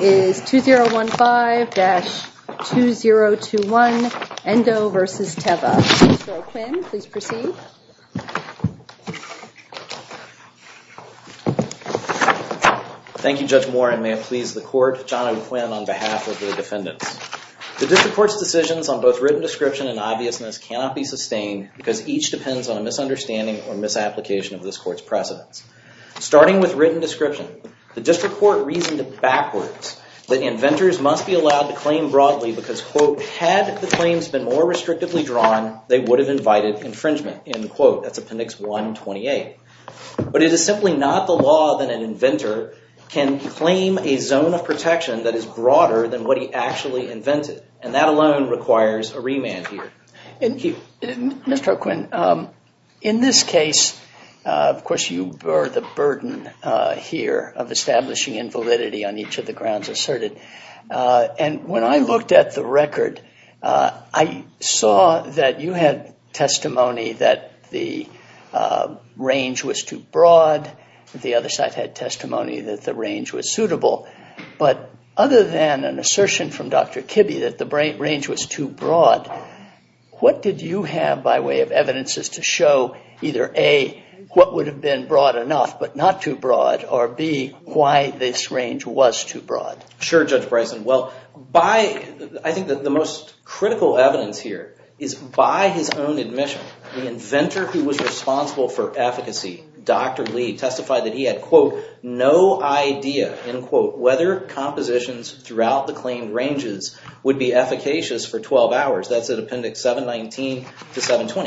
is 2015-2021 Endo v. Teva. Mr. O'Quinn, please proceed. Thank you, Judge Warren. May it please the court, John O'Quinn on behalf of the defendants. The district court's decisions on both written description and obviousness cannot be sustained because each depends on a misunderstanding or misapplication of this court's precedents. Starting with written description, the district court reasoned backwards that inventors must be allowed to claim broadly because, quote, had the claims been more restrictively drawn, they would have invited infringement, end quote. That's Appendix 128. But it is simply not the law that an inventor can claim a zone of protection that is broader than what he actually invented, and that alone requires a remand here. Thank you. Mr. O'Quinn, in this case, of course, you bear the burden here of establishing invalidity on each of the grounds asserted. And when I looked at the record, I saw that you had testimony that the range was too broad. The other side had testimony that the range was suitable. But other than an assertion from Dr. Kibbe that the range was too broad, what did you have by way of evidences to show either, A, what would have been broad enough but not too broad, or B, why this range was too broad? Sure, Judge Bryson. Well, I think that the most critical evidence here is by his own admission, the inventor who was responsible for efficacy, Dr. Lee, testified that he had, quote, no idea, end quote, whether compositions throughout the claimed ranges would be efficacious for 12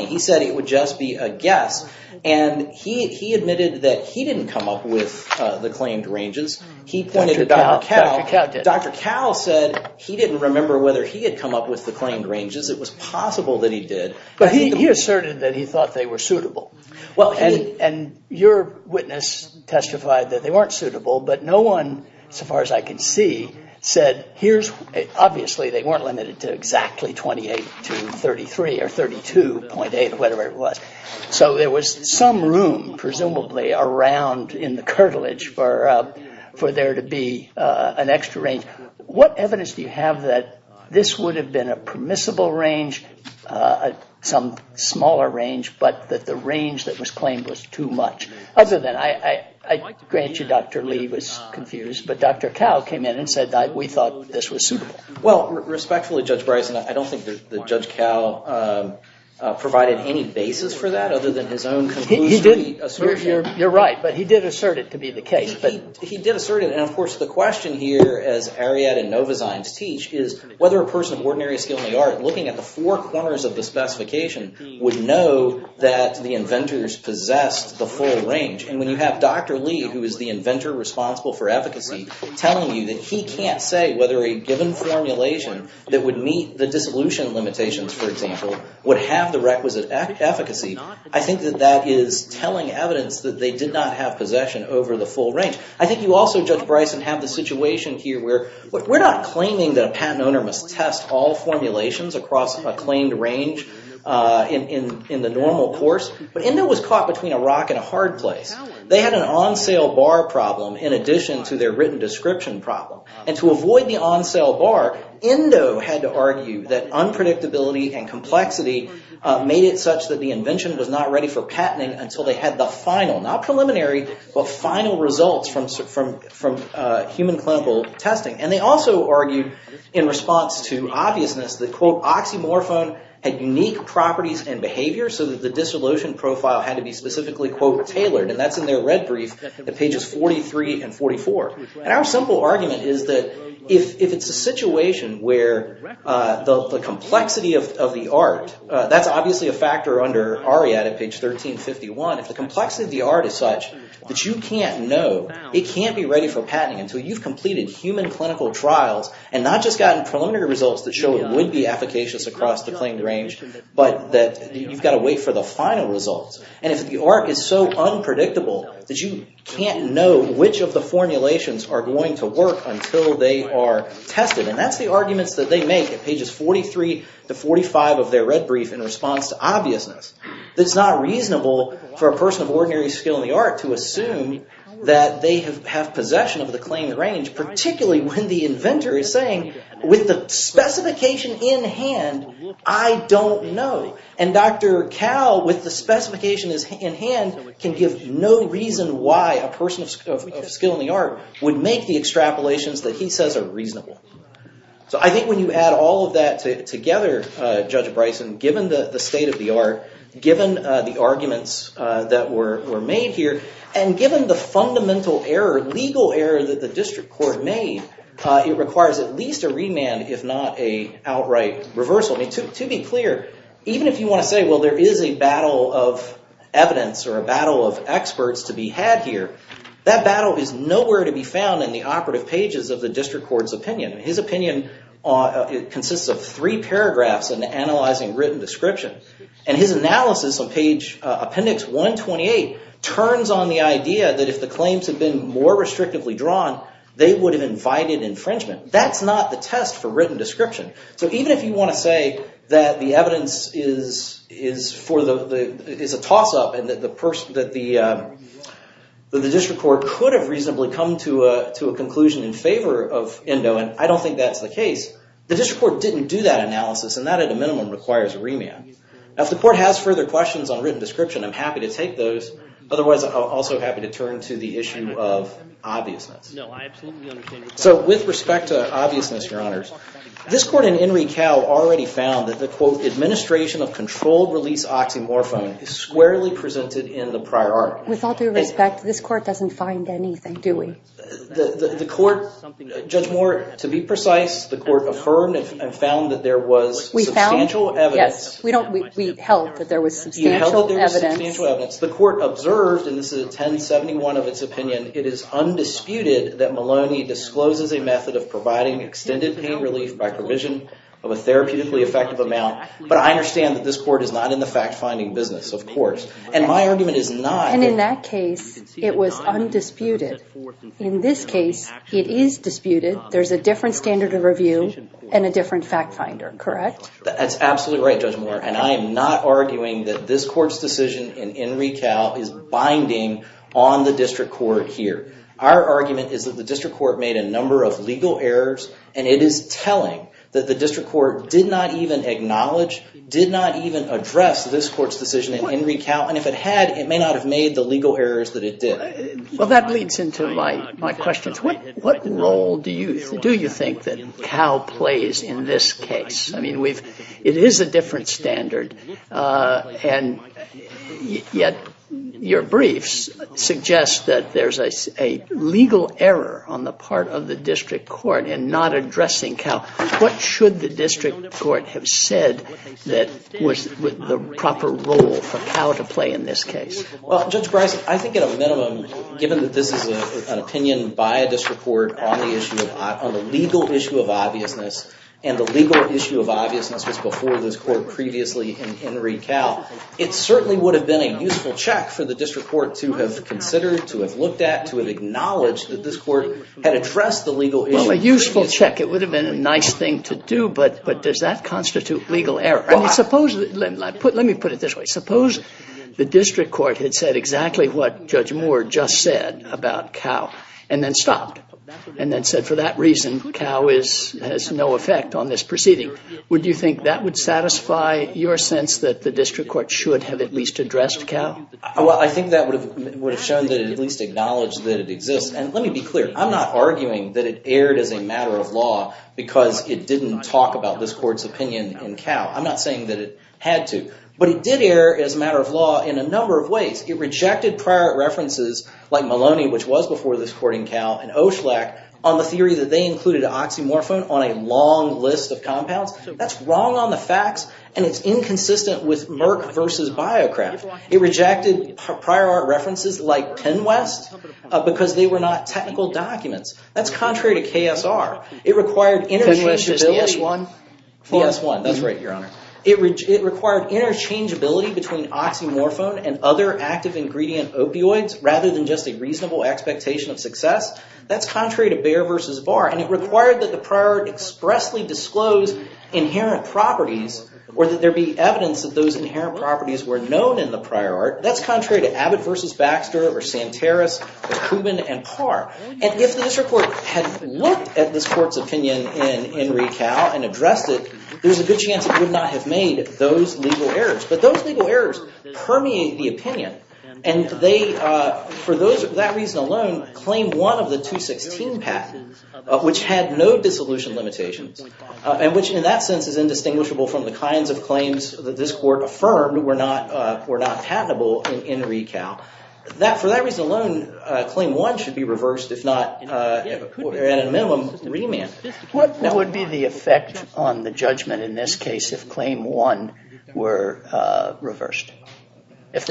He said it would just be a guess. And he admitted that he didn't come up with the claimed ranges. He pointed to Dr. Cowell. Dr. Cowell said he didn't remember whether he had come up with the claimed ranges. It was possible that he did. But he asserted that he thought they were suitable. Well, and your witness testified that they weren't suitable. But no one, so far as I can see, said here's, obviously, they weren't limited to exactly 28 to 33 or 32.8 or whatever it was. So there was some room, presumably, around in the curtilage for there to be an extra range. What evidence do you have that this would have been a permissible range, some smaller range, but that the range that was claimed was too much? Other than, I grant you Dr. Lee was confused, but Dr. Cowell came in and said that we thought this was suitable. Well, respectfully, Judge Bryson, I don't think that Judge Cowell provided any basis for that other than his own conclusion. You're right, but he did assert it to be the case. He did assert it. And, of course, the question here, as Ariadne and Novozymes teach, is whether a person of ordinary skill in the art, looking at the four corners of the specification, would know that the inventors possessed the full range. And when you have Dr. Lee, who is the inventor responsible for efficacy, telling you that he can't say whether a given formulation that would meet the dissolution limitations, for example, would have the requisite efficacy, I think that that is telling evidence that they did not have possession over the full range. I think you also, Judge Bryson, have the situation here where we're not claiming that a patent owner must test all formulations across a claimed range in the normal course, but ENDO was caught between a rock and a hard place. They had an on-sale bar problem in addition to their written description problem. And to avoid the on-sale bar, ENDO had to argue that unpredictability and complexity made it such that the invention was not ready for patenting until they had the final, not preliminary, but final results from human clinical testing. And they also argued, in response to obviousness, that, quote, oxymorphone had unique properties and profile had to be specifically, quote, tailored. And that's in their red brief at pages 43 and 44. And our simple argument is that if it's a situation where the complexity of the art, that's obviously a factor under ARIAD at page 1351, if the complexity of the art is such that you can't know, it can't be ready for patenting until you've completed human clinical trials and not just gotten preliminary results that show it would be efficacious across the And if the art is so unpredictable that you can't know which of the formulations are going to work until they are tested, and that's the arguments that they make at pages 43 to 45 of their red brief in response to obviousness, that it's not reasonable for a person of ordinary skill in the art to assume that they have possession of the claimed range, particularly when the inventor is With the specification in hand, I don't know. And Dr. Cowell, with the specification in hand, can give no reason why a person of skill in the art would make the extrapolations that he says are reasonable. So I think when you add all of that together, Judge Bryson, given the state of the art, given the arguments that were made here, and given the fundamental error, legal error, that the district court made, it requires at least a remand, if not a outright reversal. I mean, to be clear, even if you want to say, well, there is a battle of evidence or a battle of experts to be had here, that battle is nowhere to be found in the operative pages of the district court's opinion. His opinion consists of three paragraphs and analyzing written description. And his analysis on page appendix 128 turns on the idea that if the claims had been more restrictively drawn, they would have invited infringement. That's not the test for written description. So even if you want to say that the evidence is a toss-up and that the district court could have reasonably come to a conclusion in favor of Endo, and I don't think that's the case, the district court didn't do that analysis, and that at a minimum requires a remand. Now, if the court has further questions on written description, I'm happy to take those. Otherwise, I'm also happy to turn to the issue of obviousness. So with respect to obviousness, your honors, this court in Enrique Cal already found that the, quote, administration of controlled release oxymorphone is squarely presented in the prior art. With all due respect, this court doesn't find anything, do we? The court, Judge Moore, to be precise, the court affirmed and found that there was substantial evidence. We held that there was substantial evidence. The court observed, and this is 1071 of its opinion, it is undisputed that Maloney discloses a method of providing extended pain relief by provision of a therapeutically effective amount. But I understand that this court is not in the fact-finding business, of course. And my argument is not... And in that case, it was undisputed. In this case, it is disputed. There's a different standard of review and a different fact-finder, correct? That's absolutely right, Judge Moore, and I am not arguing that this court's decision in Enrique Cal is binding on the district court here. Our argument is that the district court made a number of legal errors, and it is telling that the district court did not even acknowledge, did not even address this decision in Enrique Cal. And if it had, it may not have made the legal errors that it did. Well, that leads into my questions. What role do you think that Cal plays in this case? I mean, it is a different standard, and yet your briefs suggest that there's a legal error on the part of the district court in not addressing Cal. What should the district court have said that was the proper role for Cal to play in this case? Well, Judge Bryce, I think at a minimum, given that this is an opinion by a district court on the legal issue of obviousness, and the legal issue of obviousness was before this court previously in Enrique Cal, it certainly would have been a useful check for the district court to have considered, to have looked at, to have acknowledged that this court had addressed the legal issue. Well, a useful check. It would have been a useful check. Let me put it this way. Suppose the district court had said exactly what Judge Moore just said about Cal, and then stopped, and then said, for that reason, Cal has no effect on this proceeding. Would you think that would satisfy your sense that the district court should have at least addressed Cal? Well, I think that would have shown that it at least acknowledged that it exists. And let me be clear. I'm not arguing that it erred as a matter of law because it didn't talk about this court's opinion in Cal. I'm not saying that it had to. But it did err as a matter of law in a number of ways. It rejected prior art references like Maloney, which was before this court in Cal, and Oshlak on the theory that they included oxymorphone on a long list of compounds. That's wrong on the facts, and it's inconsistent with Merck versus Biocraft. It rejected prior art references like Penwest because they were not technical documents. That's contrary to KSR. Penwest is the S-1? The S-1. That's right, Your Honor. It required interchangeability between oxymorphone and other active ingredient opioids rather than just a reasonable expectation of success. That's contrary to Bayer versus Barr. And it required that the prior art expressly disclose inherent properties or that there be evidence that those inherent properties were known in the prior art. That's contrary to Abbott versus Baxter or Santeros or Kubin and Parr. And if the district court had looked at this court's opinion in recal and addressed it, there's a good chance it would not have made those legal errors. But those legal errors permeate the opinion. And for that reason alone, claim one of the 216 patents, which had no dissolution limitations, and which in that sense is indistinguishable from the kinds of claims that this court affirmed were not patentable in recal, for that reason alone, claim one should be reversed if not at a minimum remanded. What would be the effect on the judgment in this case if claim one were reversed? If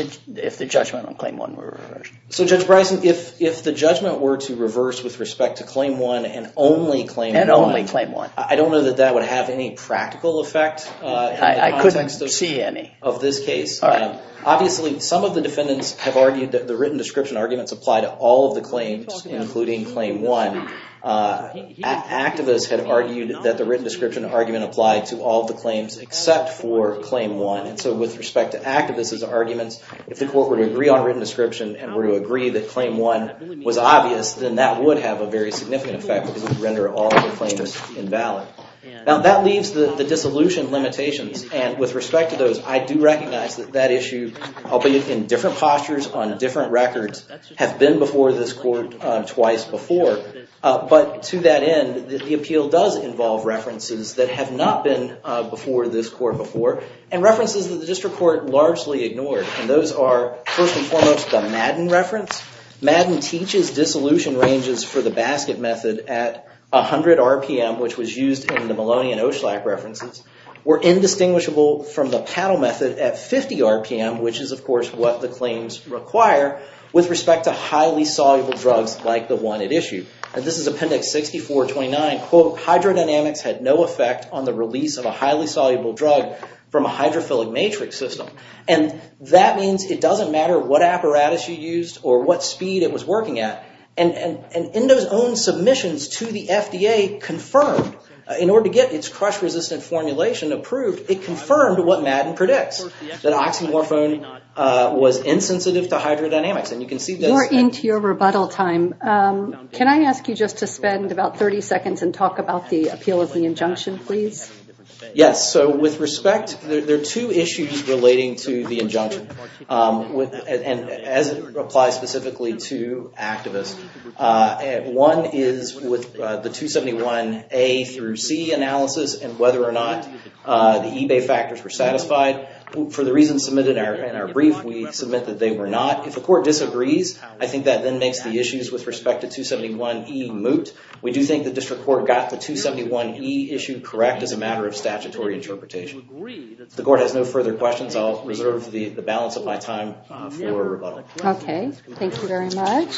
the judgment on claim one were reversed? So Judge Bryson, if the judgment were to reverse with respect to claim one and only claim one, I don't know that that would have any practical effect in the context of this case. Obviously some of the defendants have argued that the written description arguments apply to all of the claims, including claim one. Activists had argued that the written description argument applied to all the claims except for claim one. And so with respect to activists' arguments, if the court were to agree on written description and were to agree that claim one was obvious, then that would have a very significant effect because it would render all of the claims invalid. Now that leaves the dissolution limitations. And with respect to those, I do recognize that that issue, albeit in different postures on different records, have been before this court twice before. But to that end, the appeal does involve references that have not been before this court before, and references that the district court largely ignored. And those are, first and foremost, the Madden reference. Madden teaches dissolution ranges for the basket method at 100 RPM, which was used in the Maloney and Oshlak references, were indistinguishable from the paddle method at 50 RPM, which is of course what the claims require, with respect to highly soluble drugs like the one at issue. And this is Appendix 6429, quote, hydrodynamics had no effect on the release of a highly soluble drug from a hydrophilic matrix system. And that means it doesn't matter what apparatus you used or what speed it was working at. And Endo's own submissions to the FDA confirmed, in order to get its crush-resistant formulation approved, it confirmed what Madden predicts, that oxymorphone was insensitive to hydrodynamics. And you can see that- You're into your rebuttal time. Can I ask you just to spend about 30 seconds and talk about the appeal of the injunction, please? Yes, so with respect, there are two issues relating to the injunction, and as it applies specifically to activists. One is with the 271A through C analysis and whether or not the eBay factors were satisfied. For the reasons submitted in our brief, we submit that they were not. If the court disagrees, I think that then makes the issues with respect to 271E moot. We do think the district court got the 271E issue correct as a matter of statutory interpretation. The court has no further questions. I'll reserve the balance of my time for rebuttal. Okay, thank you very much.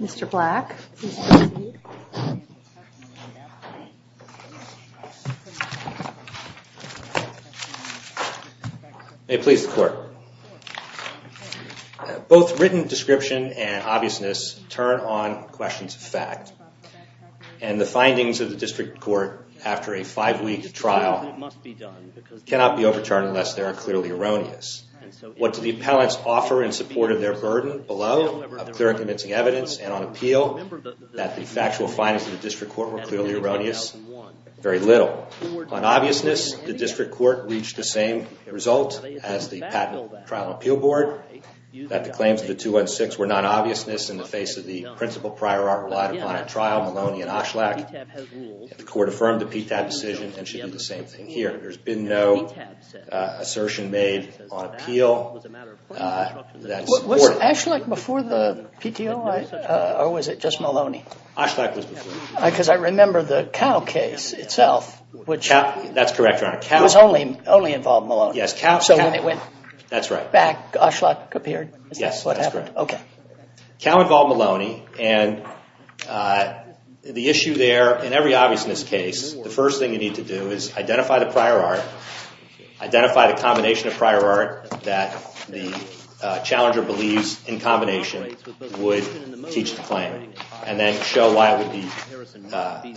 Mr. Black. May it please the court. Both written description and obviousness turn on questions of fact. And the findings of the district court after a five-week trial cannot be overturned unless they are clearly erroneous. What do the appellants offer in support of their burden below, of clear and convincing evidence, and on appeal, that the factual findings of the district court were clearly erroneous? Very little. On obviousness, the district court reached the same result as the patent trial and appeal board, that the claims of the 216 were non-obviousness in the face of the principal prior art relied upon at trial, Maloney and Ashlak. The court affirmed the PTAB decision and should do the same thing here. There's been no assertion made on appeal. Was Ashlak before the PTOI or was it just Maloney? Ashlak was before. Because I remember the Cow case itself. That's correct, Your Honor. It was only involved Maloney? Yes, Cow. So when it went back, Ashlak appeared? Yes, that's correct. Cow involved Maloney and the issue there, in every obviousness case, the first thing you need to do is identify the prior art, identify the combination of prior art that the challenger believes in combination would teach the claim, and then show why there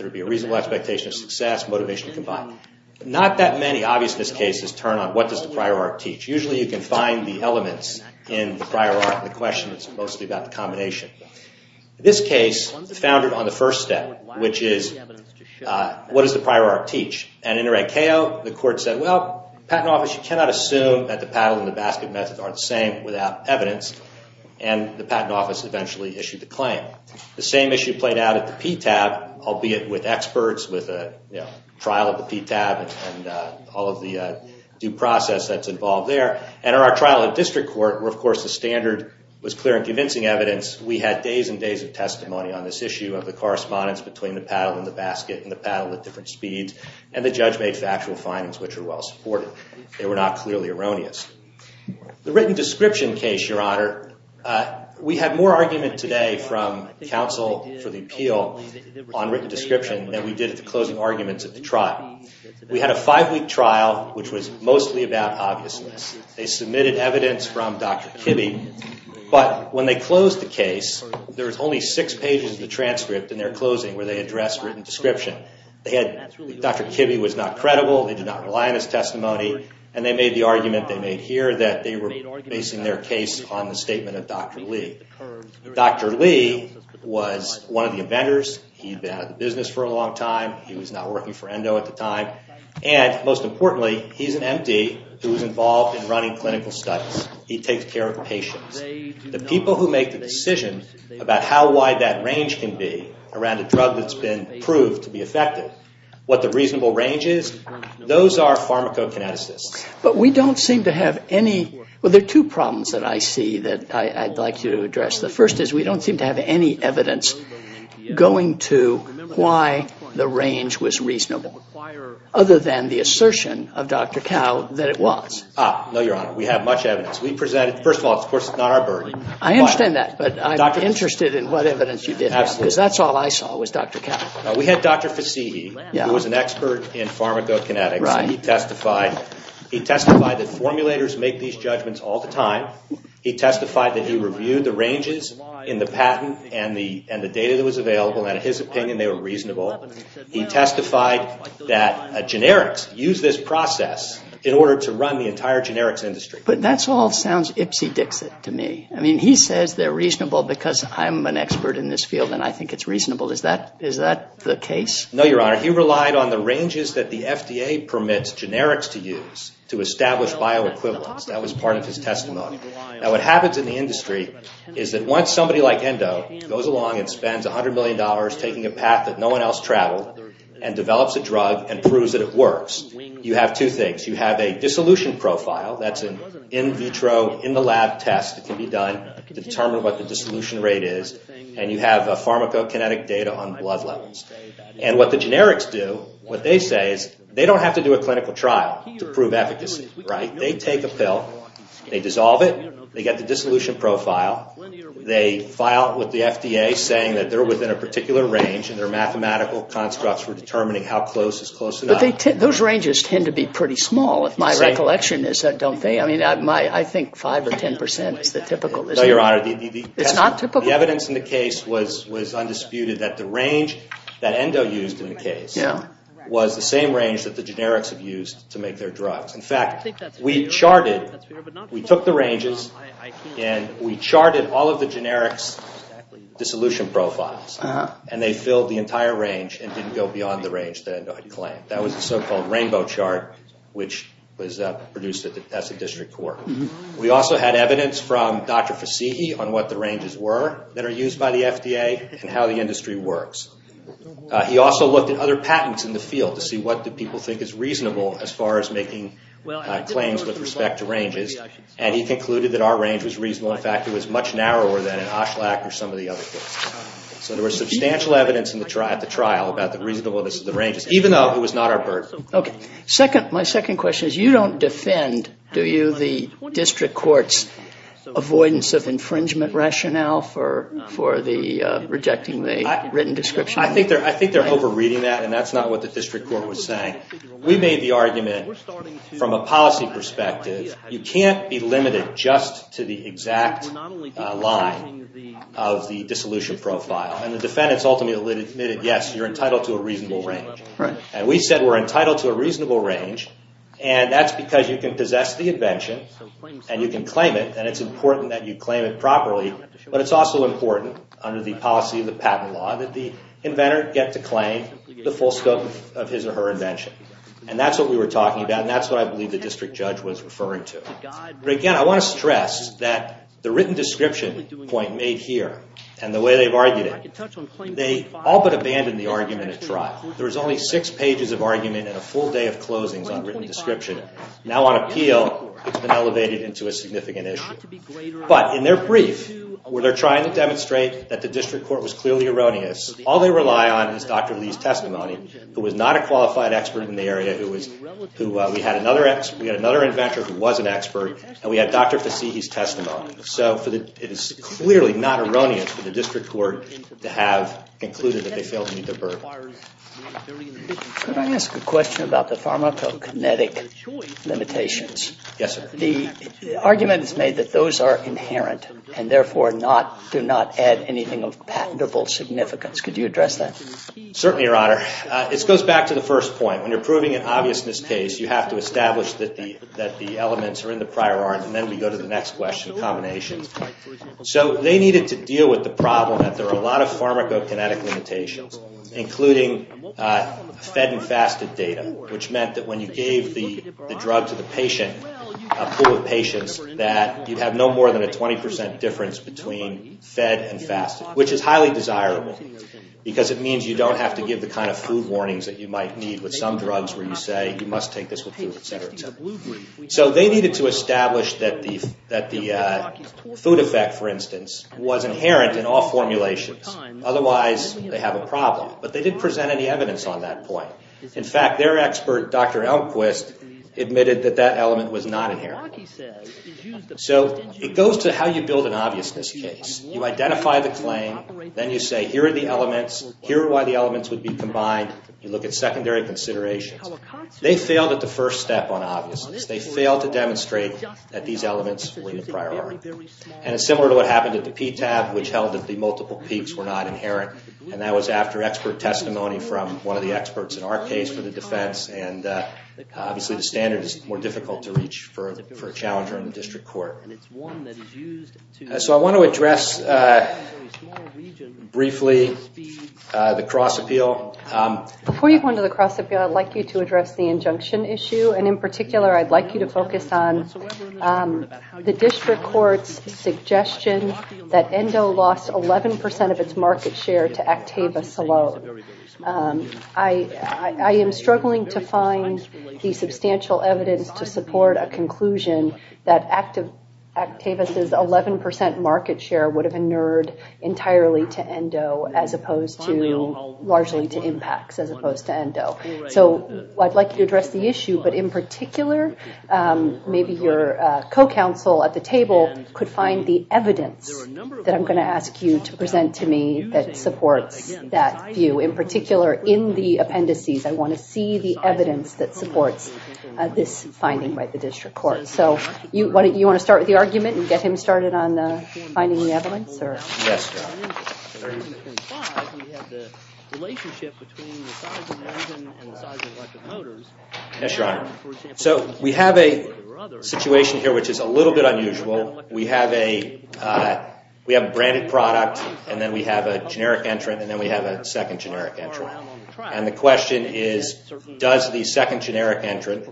would be a reasonable expectation of not that many obviousness cases turn on what does the prior art teach. Usually you can find the elements in the prior art, the question that's mostly about the combination. This case, founded on the first step, which is what does the prior art teach? And in a red KO, the court said, well, patent office, you cannot assume that the paddle and the basket methods aren't the same without evidence, and the patent office eventually issued the claim. The same issue played out at the PTAB, albeit with experts, with a trial of the PTAB and all of the due process that's involved there, and our trial at district court, where of course the standard was clear and convincing evidence, we had days and days of testimony on this issue of the correspondence between the paddle and the basket and the paddle at different speeds, and the judge made factual findings which are well supported. They were not clearly erroneous. The written description case, Your Honor, we had more argument today from counsel for the appeal on written description than we did at the arguments at the trial. We had a five-week trial which was mostly about obviousness. They submitted evidence from Dr. Kibbe, but when they closed the case, there was only six pages of the transcript in their closing where they addressed written description. Dr. Kibbe was not credible. They did not rely on his testimony, and they made the argument they made here that they were basing their case on the statement of Dr. Lee. Dr. Lee was one of the inventors. He'd been out of the business for a long time. He was not working for Endo at the time, and most importantly, he's an M.D. who was involved in running clinical studies. He takes care of patients. The people who make the decision about how wide that range can be around a drug that's been proved to be effective, what the reasonable range is, those are pharmacokineticists. But we don't seem to have any, well, there are two problems that I see that I'd like to address. The first is we don't seem to have any evidence going to why the range was reasonable other than the assertion of Dr. Kibbe that it was. No, Your Honor, we have much evidence. We presented, first of all, of course, it's not our burden. I understand that, but I'm interested in what evidence you did have because that's all I saw was Dr. Kibbe. We had Dr. Fasigi who was an expert in pharmacokinetics. He testified that formulators make these judgments all the time. He testified that he reviewed the ranges in the patent and the data that was available, and in his opinion, they were reasonable. He testified that generics use this process in order to run the entire generics industry. But that all sounds ipsy-dixit to me. I mean, he says they're reasonable because I'm an expert in this field and I think it's reasonable. Is that the case? No, Your Honor. He relied on the ranges that the FDA permits generics to use to establish bioequivalence. That was part of his testimony. Now, what happens in the industry is that once somebody like Endo goes along and spends $100 million taking a path that no one else traveled and develops a drug and proves that it works, you have two things. You have a dissolution profile that's an in vitro, in the lab test that can be done to determine what the dissolution rate is, and you have a pharmacokinetic data on blood levels. And what the generics do, what they say is they don't have to do a clinical trial to prove efficacy, right? They take a pill, they dissolve it, they get the dissolution profile, they file with the FDA saying that they're within a particular range and their mathematical constructs for determining how close is close enough. But those ranges tend to be pretty small, if my recollection is that, don't they? I mean, I think 5 or 10 percent is the typical. No, Your Honor. It's not typical. The evidence in the case was undisputed that the range that Endo used in the case was the same range that the generics have used to make their drugs. In fact, we charted, we took the ranges and we charted all of the generics' dissolution profiles and they filled the entire range and didn't go beyond the range that Endo had claimed. That was the so-called rainbow chart which was produced at the District Court. We also had evidence from Dr. Fasighi on what the ranges were that are used by the FDA and how the industry works. He also looked at other patents in the field to see what people think is reasonable as far as making claims with respect to ranges and he concluded that our range was reasonable. In fact, it was much narrower than in Oshlak or some of the other cases. So there was substantial evidence at the trial about the reasonableness of the ranges, even though it was not our burden. Okay. My second question is you don't defend, do you, the District Court's avoidance of infringement rationale for rejecting the written description? I think they're over-reading that and that's not what the District Court was saying. We made the argument from a policy perspective, you can't be limited just to the exact line of the dissolution profile and the defendants ultimately admitted yes, you're entitled to a reasonable range. Right. And we said we're entitled to a reasonable range and that's because you can possess the invention and you can claim it and it's important that you the inventor get to claim the full scope of his or her invention. And that's what we were talking about and that's what I believe the District Judge was referring to. But again, I want to stress that the written description point made here and the way they've argued it, they all but abandoned the argument at trial. There was only six pages of argument and a full day of closings on written description. Now on appeal, it's been elevated into a significant issue. But in their brief, where they're trying to demonstrate that the District Court was clearly erroneous, all they rely on is Dr. Lee's testimony, who was not a qualified expert in the area, we had another inventor who was an expert and we had Dr. Fasihi's testimony. So it is clearly not erroneous for the District Court to have concluded that they failed to meet their burden. Could I ask a question about the pharmacokinetic limitations? Yes, sir. The argument is made that those are inherent and therefore do not add anything of patentable significance. Could you address that? Certainly, Your Honor. It goes back to the first point. When you're proving an obviousness case, you have to establish that the elements are in the prior art and then we go to the next question, combination. So they needed to deal with the problem that there are a lot of pharmacokinetic limitations, including fed and fasted data, which meant that when you gave the more than a 20% difference between fed and fasted, which is highly desirable because it means you don't have to give the kind of food warnings that you might need with some drugs where you say you must take this with food, etc. So they needed to establish that the food effect, for instance, was inherent in all formulations. Otherwise, they have a problem. But they didn't present any evidence on that point. In fact, their expert, Dr. Elmquist, admitted that that element was not inherent. It goes to how you build an obviousness case. You identify the claim. Then you say, here are the elements. Here are why the elements would be combined. You look at secondary considerations. They failed at the first step on obviousness. They failed to demonstrate that these elements were in the prior art. And it's similar to what happened at the PTAB, which held that the multiple peaks were not inherent. And that was after expert testimony from one of the experts in our case for the defense. And obviously, the standard is more difficult to reach for a challenger in the district court. So I want to address briefly the cross-appeal. Before you go into the cross-appeal, I'd like you to address the injunction issue. And in particular, I'd like you to focus on the district court's suggestion that ENDO lost 11% of its market share to Actavis alone. I am struggling to find the substantial evidence to support a conclusion that Actavis' 11% market share would have inured entirely to ENDO, as opposed to largely to impacts, as opposed to ENDO. So I'd like you to address the issue. But in particular, maybe your co-counsel at the table could find the evidence that I'm going to ask you to present to me that supports that view. In particular, in the case that supports this finding by the district court. So you want to start with the argument and get him started on finding the evidence? Yes, Your Honor. So we have a situation here which is a little bit unusual. We have a we have a branded product, and then we have a generic entrant, and then we have a second generic entrant. And the question is, does the second generic entrant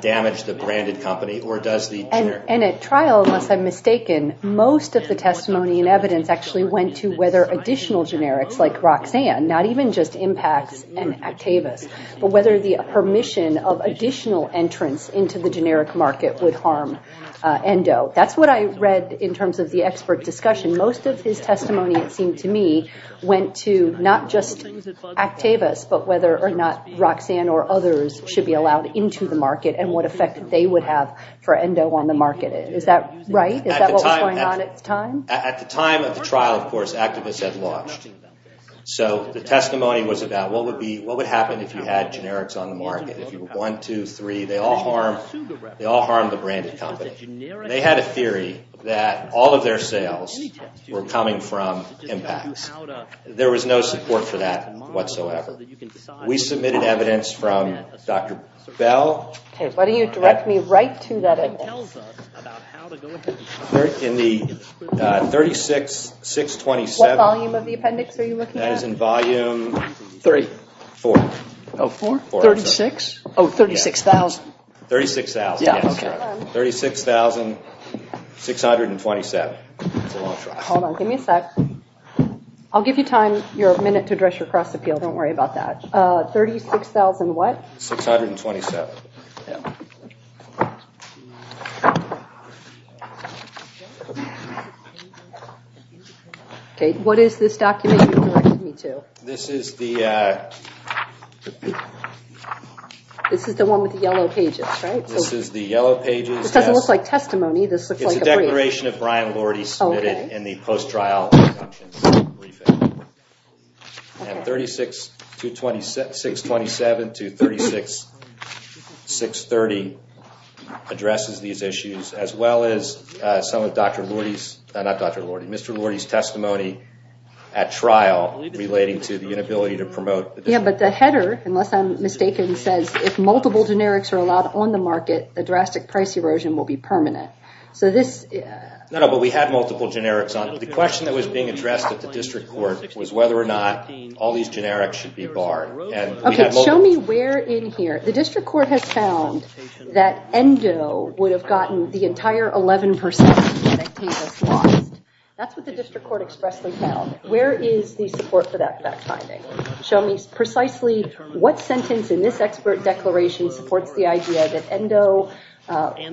damage the branded company? Or does the generic? And at trial, unless I'm mistaken, most of the testimony and evidence actually went to whether additional generics like Roxanne, not even just impacts and Actavis, but whether the permission of additional entrants into the generic market would harm ENDO. That's what I read in terms of the expert discussion. Most of his testimony, it seemed to me, went to not just Actavis, but whether or not Roxanne or others should be allowed into the market and what effect they would have for ENDO on the market. Is that right? Is that what was going on at the time? At the time of the trial, of course, Actavis had launched. So the testimony was about what would happen if you had generics on the market. If you were one, two, three, they all harm the branded company. They had a theory that all of their sales were coming from impacts. There was no support for that whatsoever. We submitted evidence from Dr. Bell. Okay, why don't you direct me right to that. In the 36,627. What volume of the appendix are you looking at? That is in volume. Three. Four. Oh, four. 36. Oh, 36,000. 36,000. 36,627. That's a long trial. Hold on. Give me a sec. I'll give you a minute to address your cross appeal. Don't worry about that. 36,000 what? 627. Okay, what is this document you're directing me to? This is the... This is the one with the yellow pages, right? This is the yellow pages. This doesn't look like testimony. It's a declaration of Brian Lordy submitted in the post-trial. And 36,627 to 36,630 addresses these issues as well as some of Dr. Lordy's, not Dr. Lordy, Mr. Lordy's testimony at trial relating to the inability to promote... Yeah, but the header, unless I'm mistaken, says if multiple generics are allowed on the market, the drastic price erosion will be permanent. So this... No, no, but we had multiple generics on. The question that was being addressed at the district court was whether or not all these generics should be barred. Okay, show me where in here... The district court has found that ENDO would have gotten the entire 11% of Medicaid that's lost. That's what the district court expressly found. Where is the support for that fact finding? Show me precisely what sentence in this expert declaration supports the idea that ENDO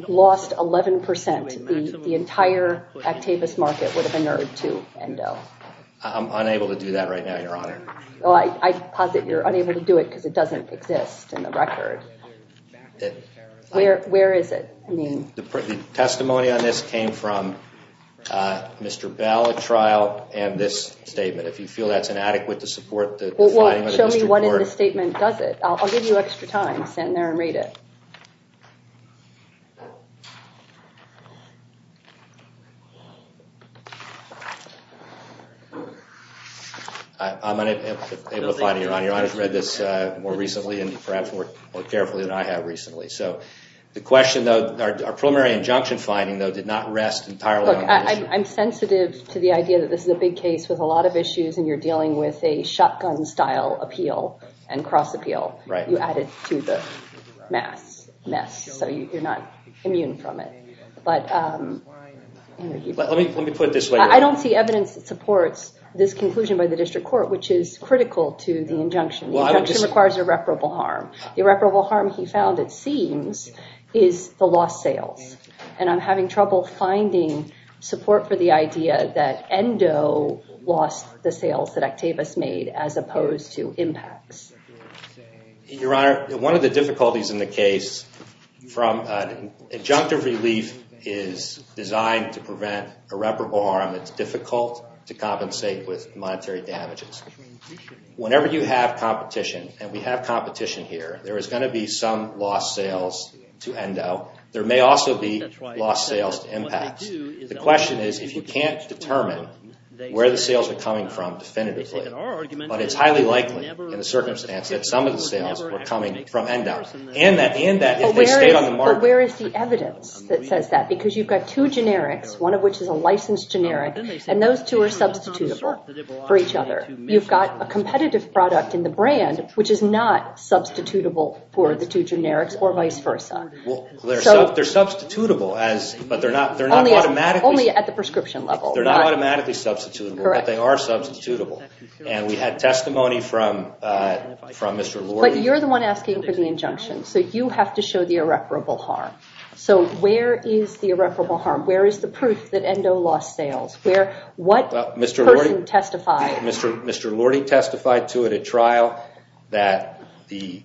lost 11%. The entire Actavis market would have inured to ENDO. I'm unable to do that right now, Your Honor. Well, I posit you're unable to do it because it doesn't exist in the record. Where is it? The testimony on this came from Mr. Bell at trial and this statement. If you feel that's inadequate to support the finding of the district court... Well, show me what in the statement does it. I'll give you extra time. Stand there and read it. Okay. I'm unable to find it, Your Honor. Your Honor's read this more recently and perhaps more carefully than I have recently. So the question, though, our preliminary injunction finding, though, did not rest entirely... Look, I'm sensitive to the idea that this is a big case with a lot of issues and you're dealing with a shotgun-style appeal and cross-appeal. Right. You added to the mess, so you're not immune from it. Let me put it this way... I don't see evidence that supports this conclusion by the district court, which is critical to the injunction. The injunction requires irreparable harm. The irreparable harm he found, it seems, is the lost sales. And I'm having trouble finding support for the idea that ENDO lost the sales that Actavis made as opposed to impacts. Your Honor, one of the difficulties in the case from... Injunctive relief is designed to prevent irreparable harm. It's difficult to compensate with monetary damages. Whenever you have competition, and we have competition here, there is going to be some lost sales to ENDO. There may also be lost sales to impacts. The question is, if you can't determine where the sales are coming from definitively, but it's highly likely, in the circumstance, that some of the sales were coming from ENDO, and that if they stayed on the market... But where is the evidence that says that? Because you've got two generics, one of which is a licensed generic, and those two are substitutable for each other. You've got a competitive product in the brand, which is not substitutable for the two generics, or vice versa. They're substitutable, but they're not automatically... Only at the prescription level. They're not automatically substitutable, but they are substitutable. And we had testimony from Mr. Lordy... But you're the one asking for the injunction, so you have to show the irreparable harm. So where is the irreparable harm? Where is the proof that ENDO lost sales? Mr. Lordy testified to it at trial that the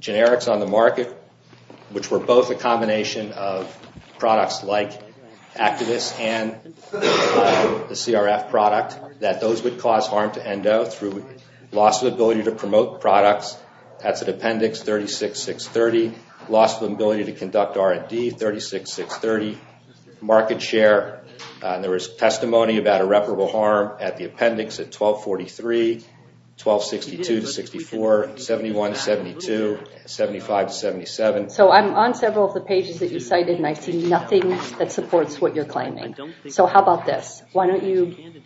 generics on the market, which were both a combination of products like Activist and the CRF product, that those would cause harm to ENDO through loss of ability to promote products. That's at appendix 36630. Loss of ability to conduct R&D, 36630. Market share, there was testimony about irreparable harm at the appendix at 1243, 1262 to 64, 71 to 72, 75 to 77. So I'm on several of the pages that you cited, and I see nothing that supports what you're claiming. So how about this?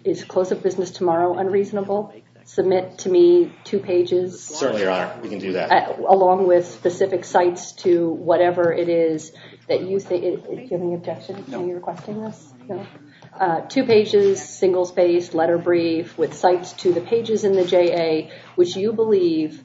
Is close of business tomorrow unreasonable? Submit to me two pages... Certainly, Your Honor, we can do that. Along with specific sites to whatever it is that you say... Do you have any objection to me requesting this? Two pages, singles-based, letter brief, with sites to the pages in the JA, which you believe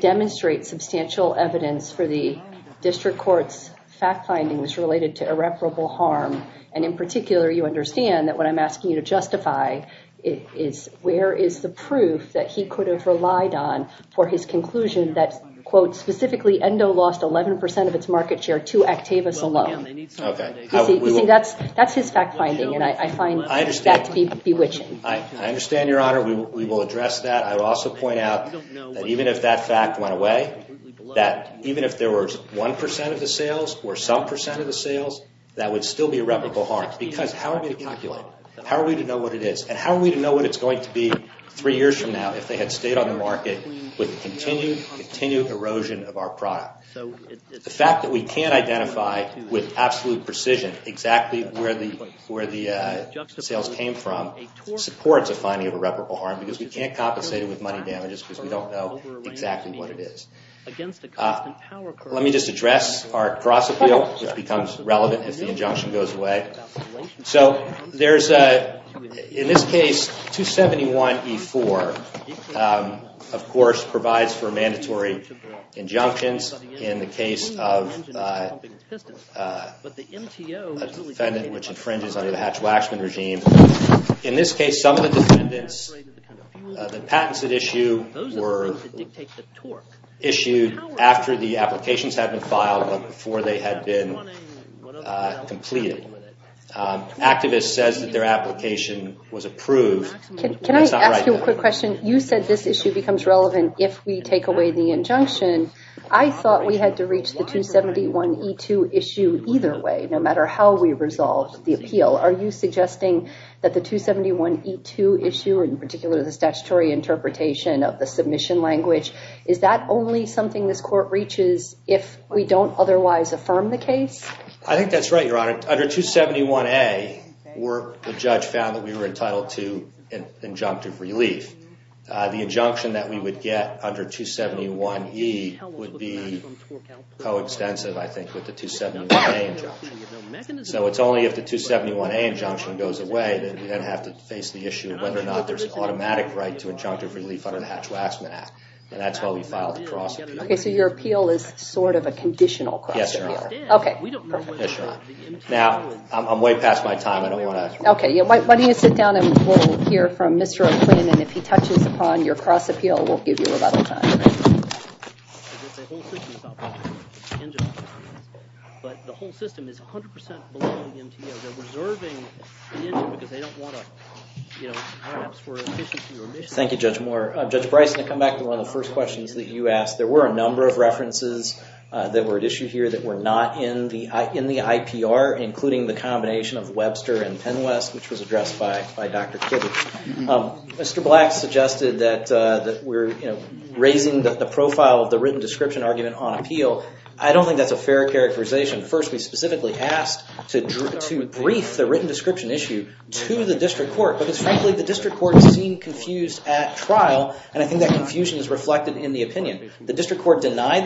demonstrate substantial evidence for the district court's fact findings related to irreparable harm. And in particular, you understand that what I'm asking you to justify is where is the proof that he could have relied on for his conclusion that, quote, specifically ENDO lost 11% of its market share to Actavis alone. Okay. That's his fact finding, and I find that to be bewitching. I understand, Your Honor. We will address that. I would also point out that even if that fact went away, that even if there was 1% of the sales or some percent of the sales, that would still be irreparable harm. Because how are we to calculate? How are we to know what it is? And how are we to know what it's going to be three years from now if they had stayed on the market with continued erosion of our product? The fact that we can't identify with absolute precision exactly where the sales came from supports a finding of irreparable harm because we can't compensate it with money damages because we don't know exactly what it is. Let me just address our cross-appeal, which becomes relevant if the injunction goes away. So there's, in this case, 271E4, of course, provides for mandatory injunctions in the case of a defendant which infringes under the Hatch-Waxman regime. In this case, some of the defendants, the patents that issue were issued after the applications had been filed but before they had been completed. Activists says that their application was approved. Can I ask you a quick question? You said this issue becomes relevant if we take away the injunction. I thought we had to reach the 271E2 issue either way, no matter how we resolved the appeal. Are you suggesting that the 271E2 issue, in particular the statutory interpretation of the submission language, is that only something this court reaches if we don't otherwise affirm the case? I think that's right, Your Honor. Under 271A, the judge found that we were entitled to injunctive relief. The injunction that we would get under 271E would be co-extensive, I think, with the 271A injunction. So it's only if the 271A injunction goes away that we then have to face the issue of whether or not there's automatic right to injunctive relief under the Hatch-Waxman Act. And that's why we filed the cross-appeal. Okay, so your appeal is sort of a conditional cross-appeal? Yes, Your Honor. Okay, perfect. Yes, Your Honor. Now, I'm way past my time. I don't want to... Okay, why don't you sit down and we'll hear from Mr. O'Quinn, and if he touches upon your cross-appeal, we'll give you a little time. Thank you, Judge Moore. Judge Bryson, to come back to one of the first questions that you asked, there were a number of references that were at issue here that were not in the IPR, including the combination of Webster and Penwest, which was addressed by Dr. Kibitz. Mr. Black suggested that we're raising the profile of the written description argument on appeal. I don't think that's a fair characterization. First, we specifically asked to brief the written description issue to the district court, because frankly, the district court seemed confused at trial, and I think that confusion is reflected in the opinion. The district court denied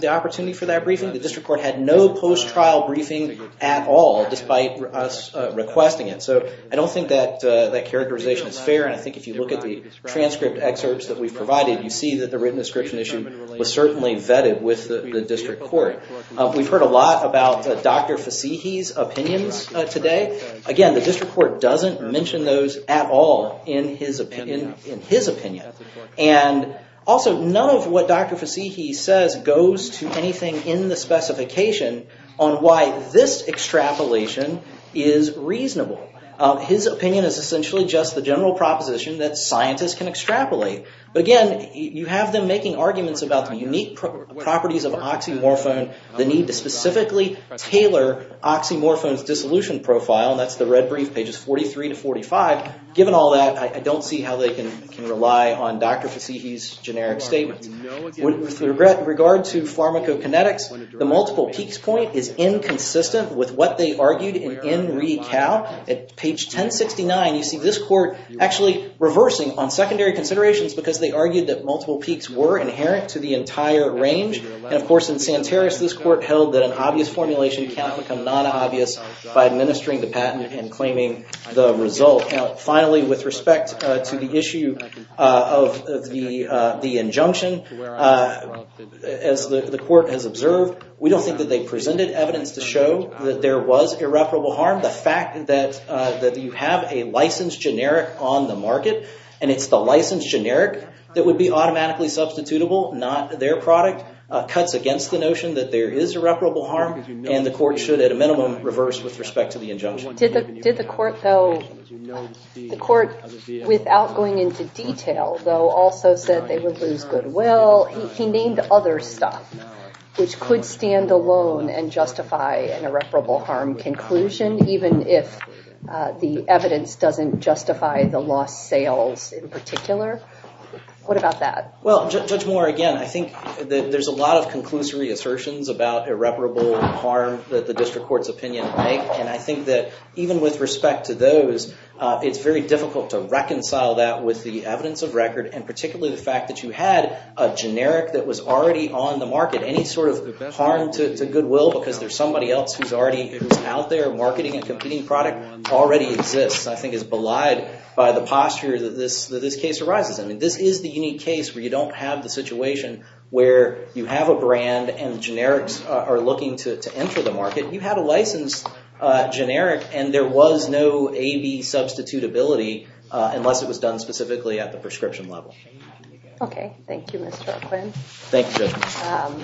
the opportunity for that briefing. The district court had no post-trial briefing at all, despite us requesting it. So I don't think that characterization is fair, and I think if you look at the transcript excerpts that we've provided, you see that the written description issue was certainly vetted with the district court. We've heard a lot about Dr. Fasihi's opinions today. Again, the district court doesn't mention those at all in his opinion. And also, none of what Dr. Fasihi says goes to anything in the specification on why this extrapolation is reasonable. His opinion is essentially just the general proposition that scientists can extrapolate. But again, you have them making arguments about the unique properties of oxymorphone, the need to specifically tailor oxymorphone's dissolution profile, and that's the red brief, pages 43 to 45. Given all that, I don't see how they can rely on Dr. Fasihi's generic statements. With regard to pharmacokinetics, the multiple peaks point is inconsistent with what they argued in NRECAL. At page 1069, you see this court actually reversing on secondary considerations, because they argued that multiple peaks were inherent to the entire range. And of course, in Santaris, this court held that an obvious formulation cannot become non-obvious by administering the patent and claiming the result. Finally, with respect to the issue of the injunction, as the court has observed, we don't think that they presented evidence to show that there was irreparable harm. The fact that you have a licensed generic on the market, and it's the licensed generic that would be automatically substitutable, not their product, cuts against the notion that there is irreparable harm, and the court should, at a minimum, reverse with respect to the injunction. The court, without going into detail, though, also said they would lose goodwill. He named other stuff, which could stand alone and justify an irreparable harm conclusion, even if the evidence doesn't justify the lost sales in particular. What about that? Well, Judge Moore, again, I think that there's a lot of conclusory assertions about irreparable harm that the district court's opinion would make, and I think that even with respect to those, it's very difficult to reconcile that with the evidence of record, and particularly the fact that you had a generic that was already on the market. Any sort of harm to goodwill, because there's somebody else who's already out there marketing a competing product already exists, I think is belied by the posture that this case arises in. This is the unique case where you don't have the situation where you have a brand and generics are looking to enter the market. You have a licensed generic and there was no A-B substitutability unless it was done specifically at the prescription level. Okay, thank you, Mr. O'Quinn. Thank you, Judge Moore.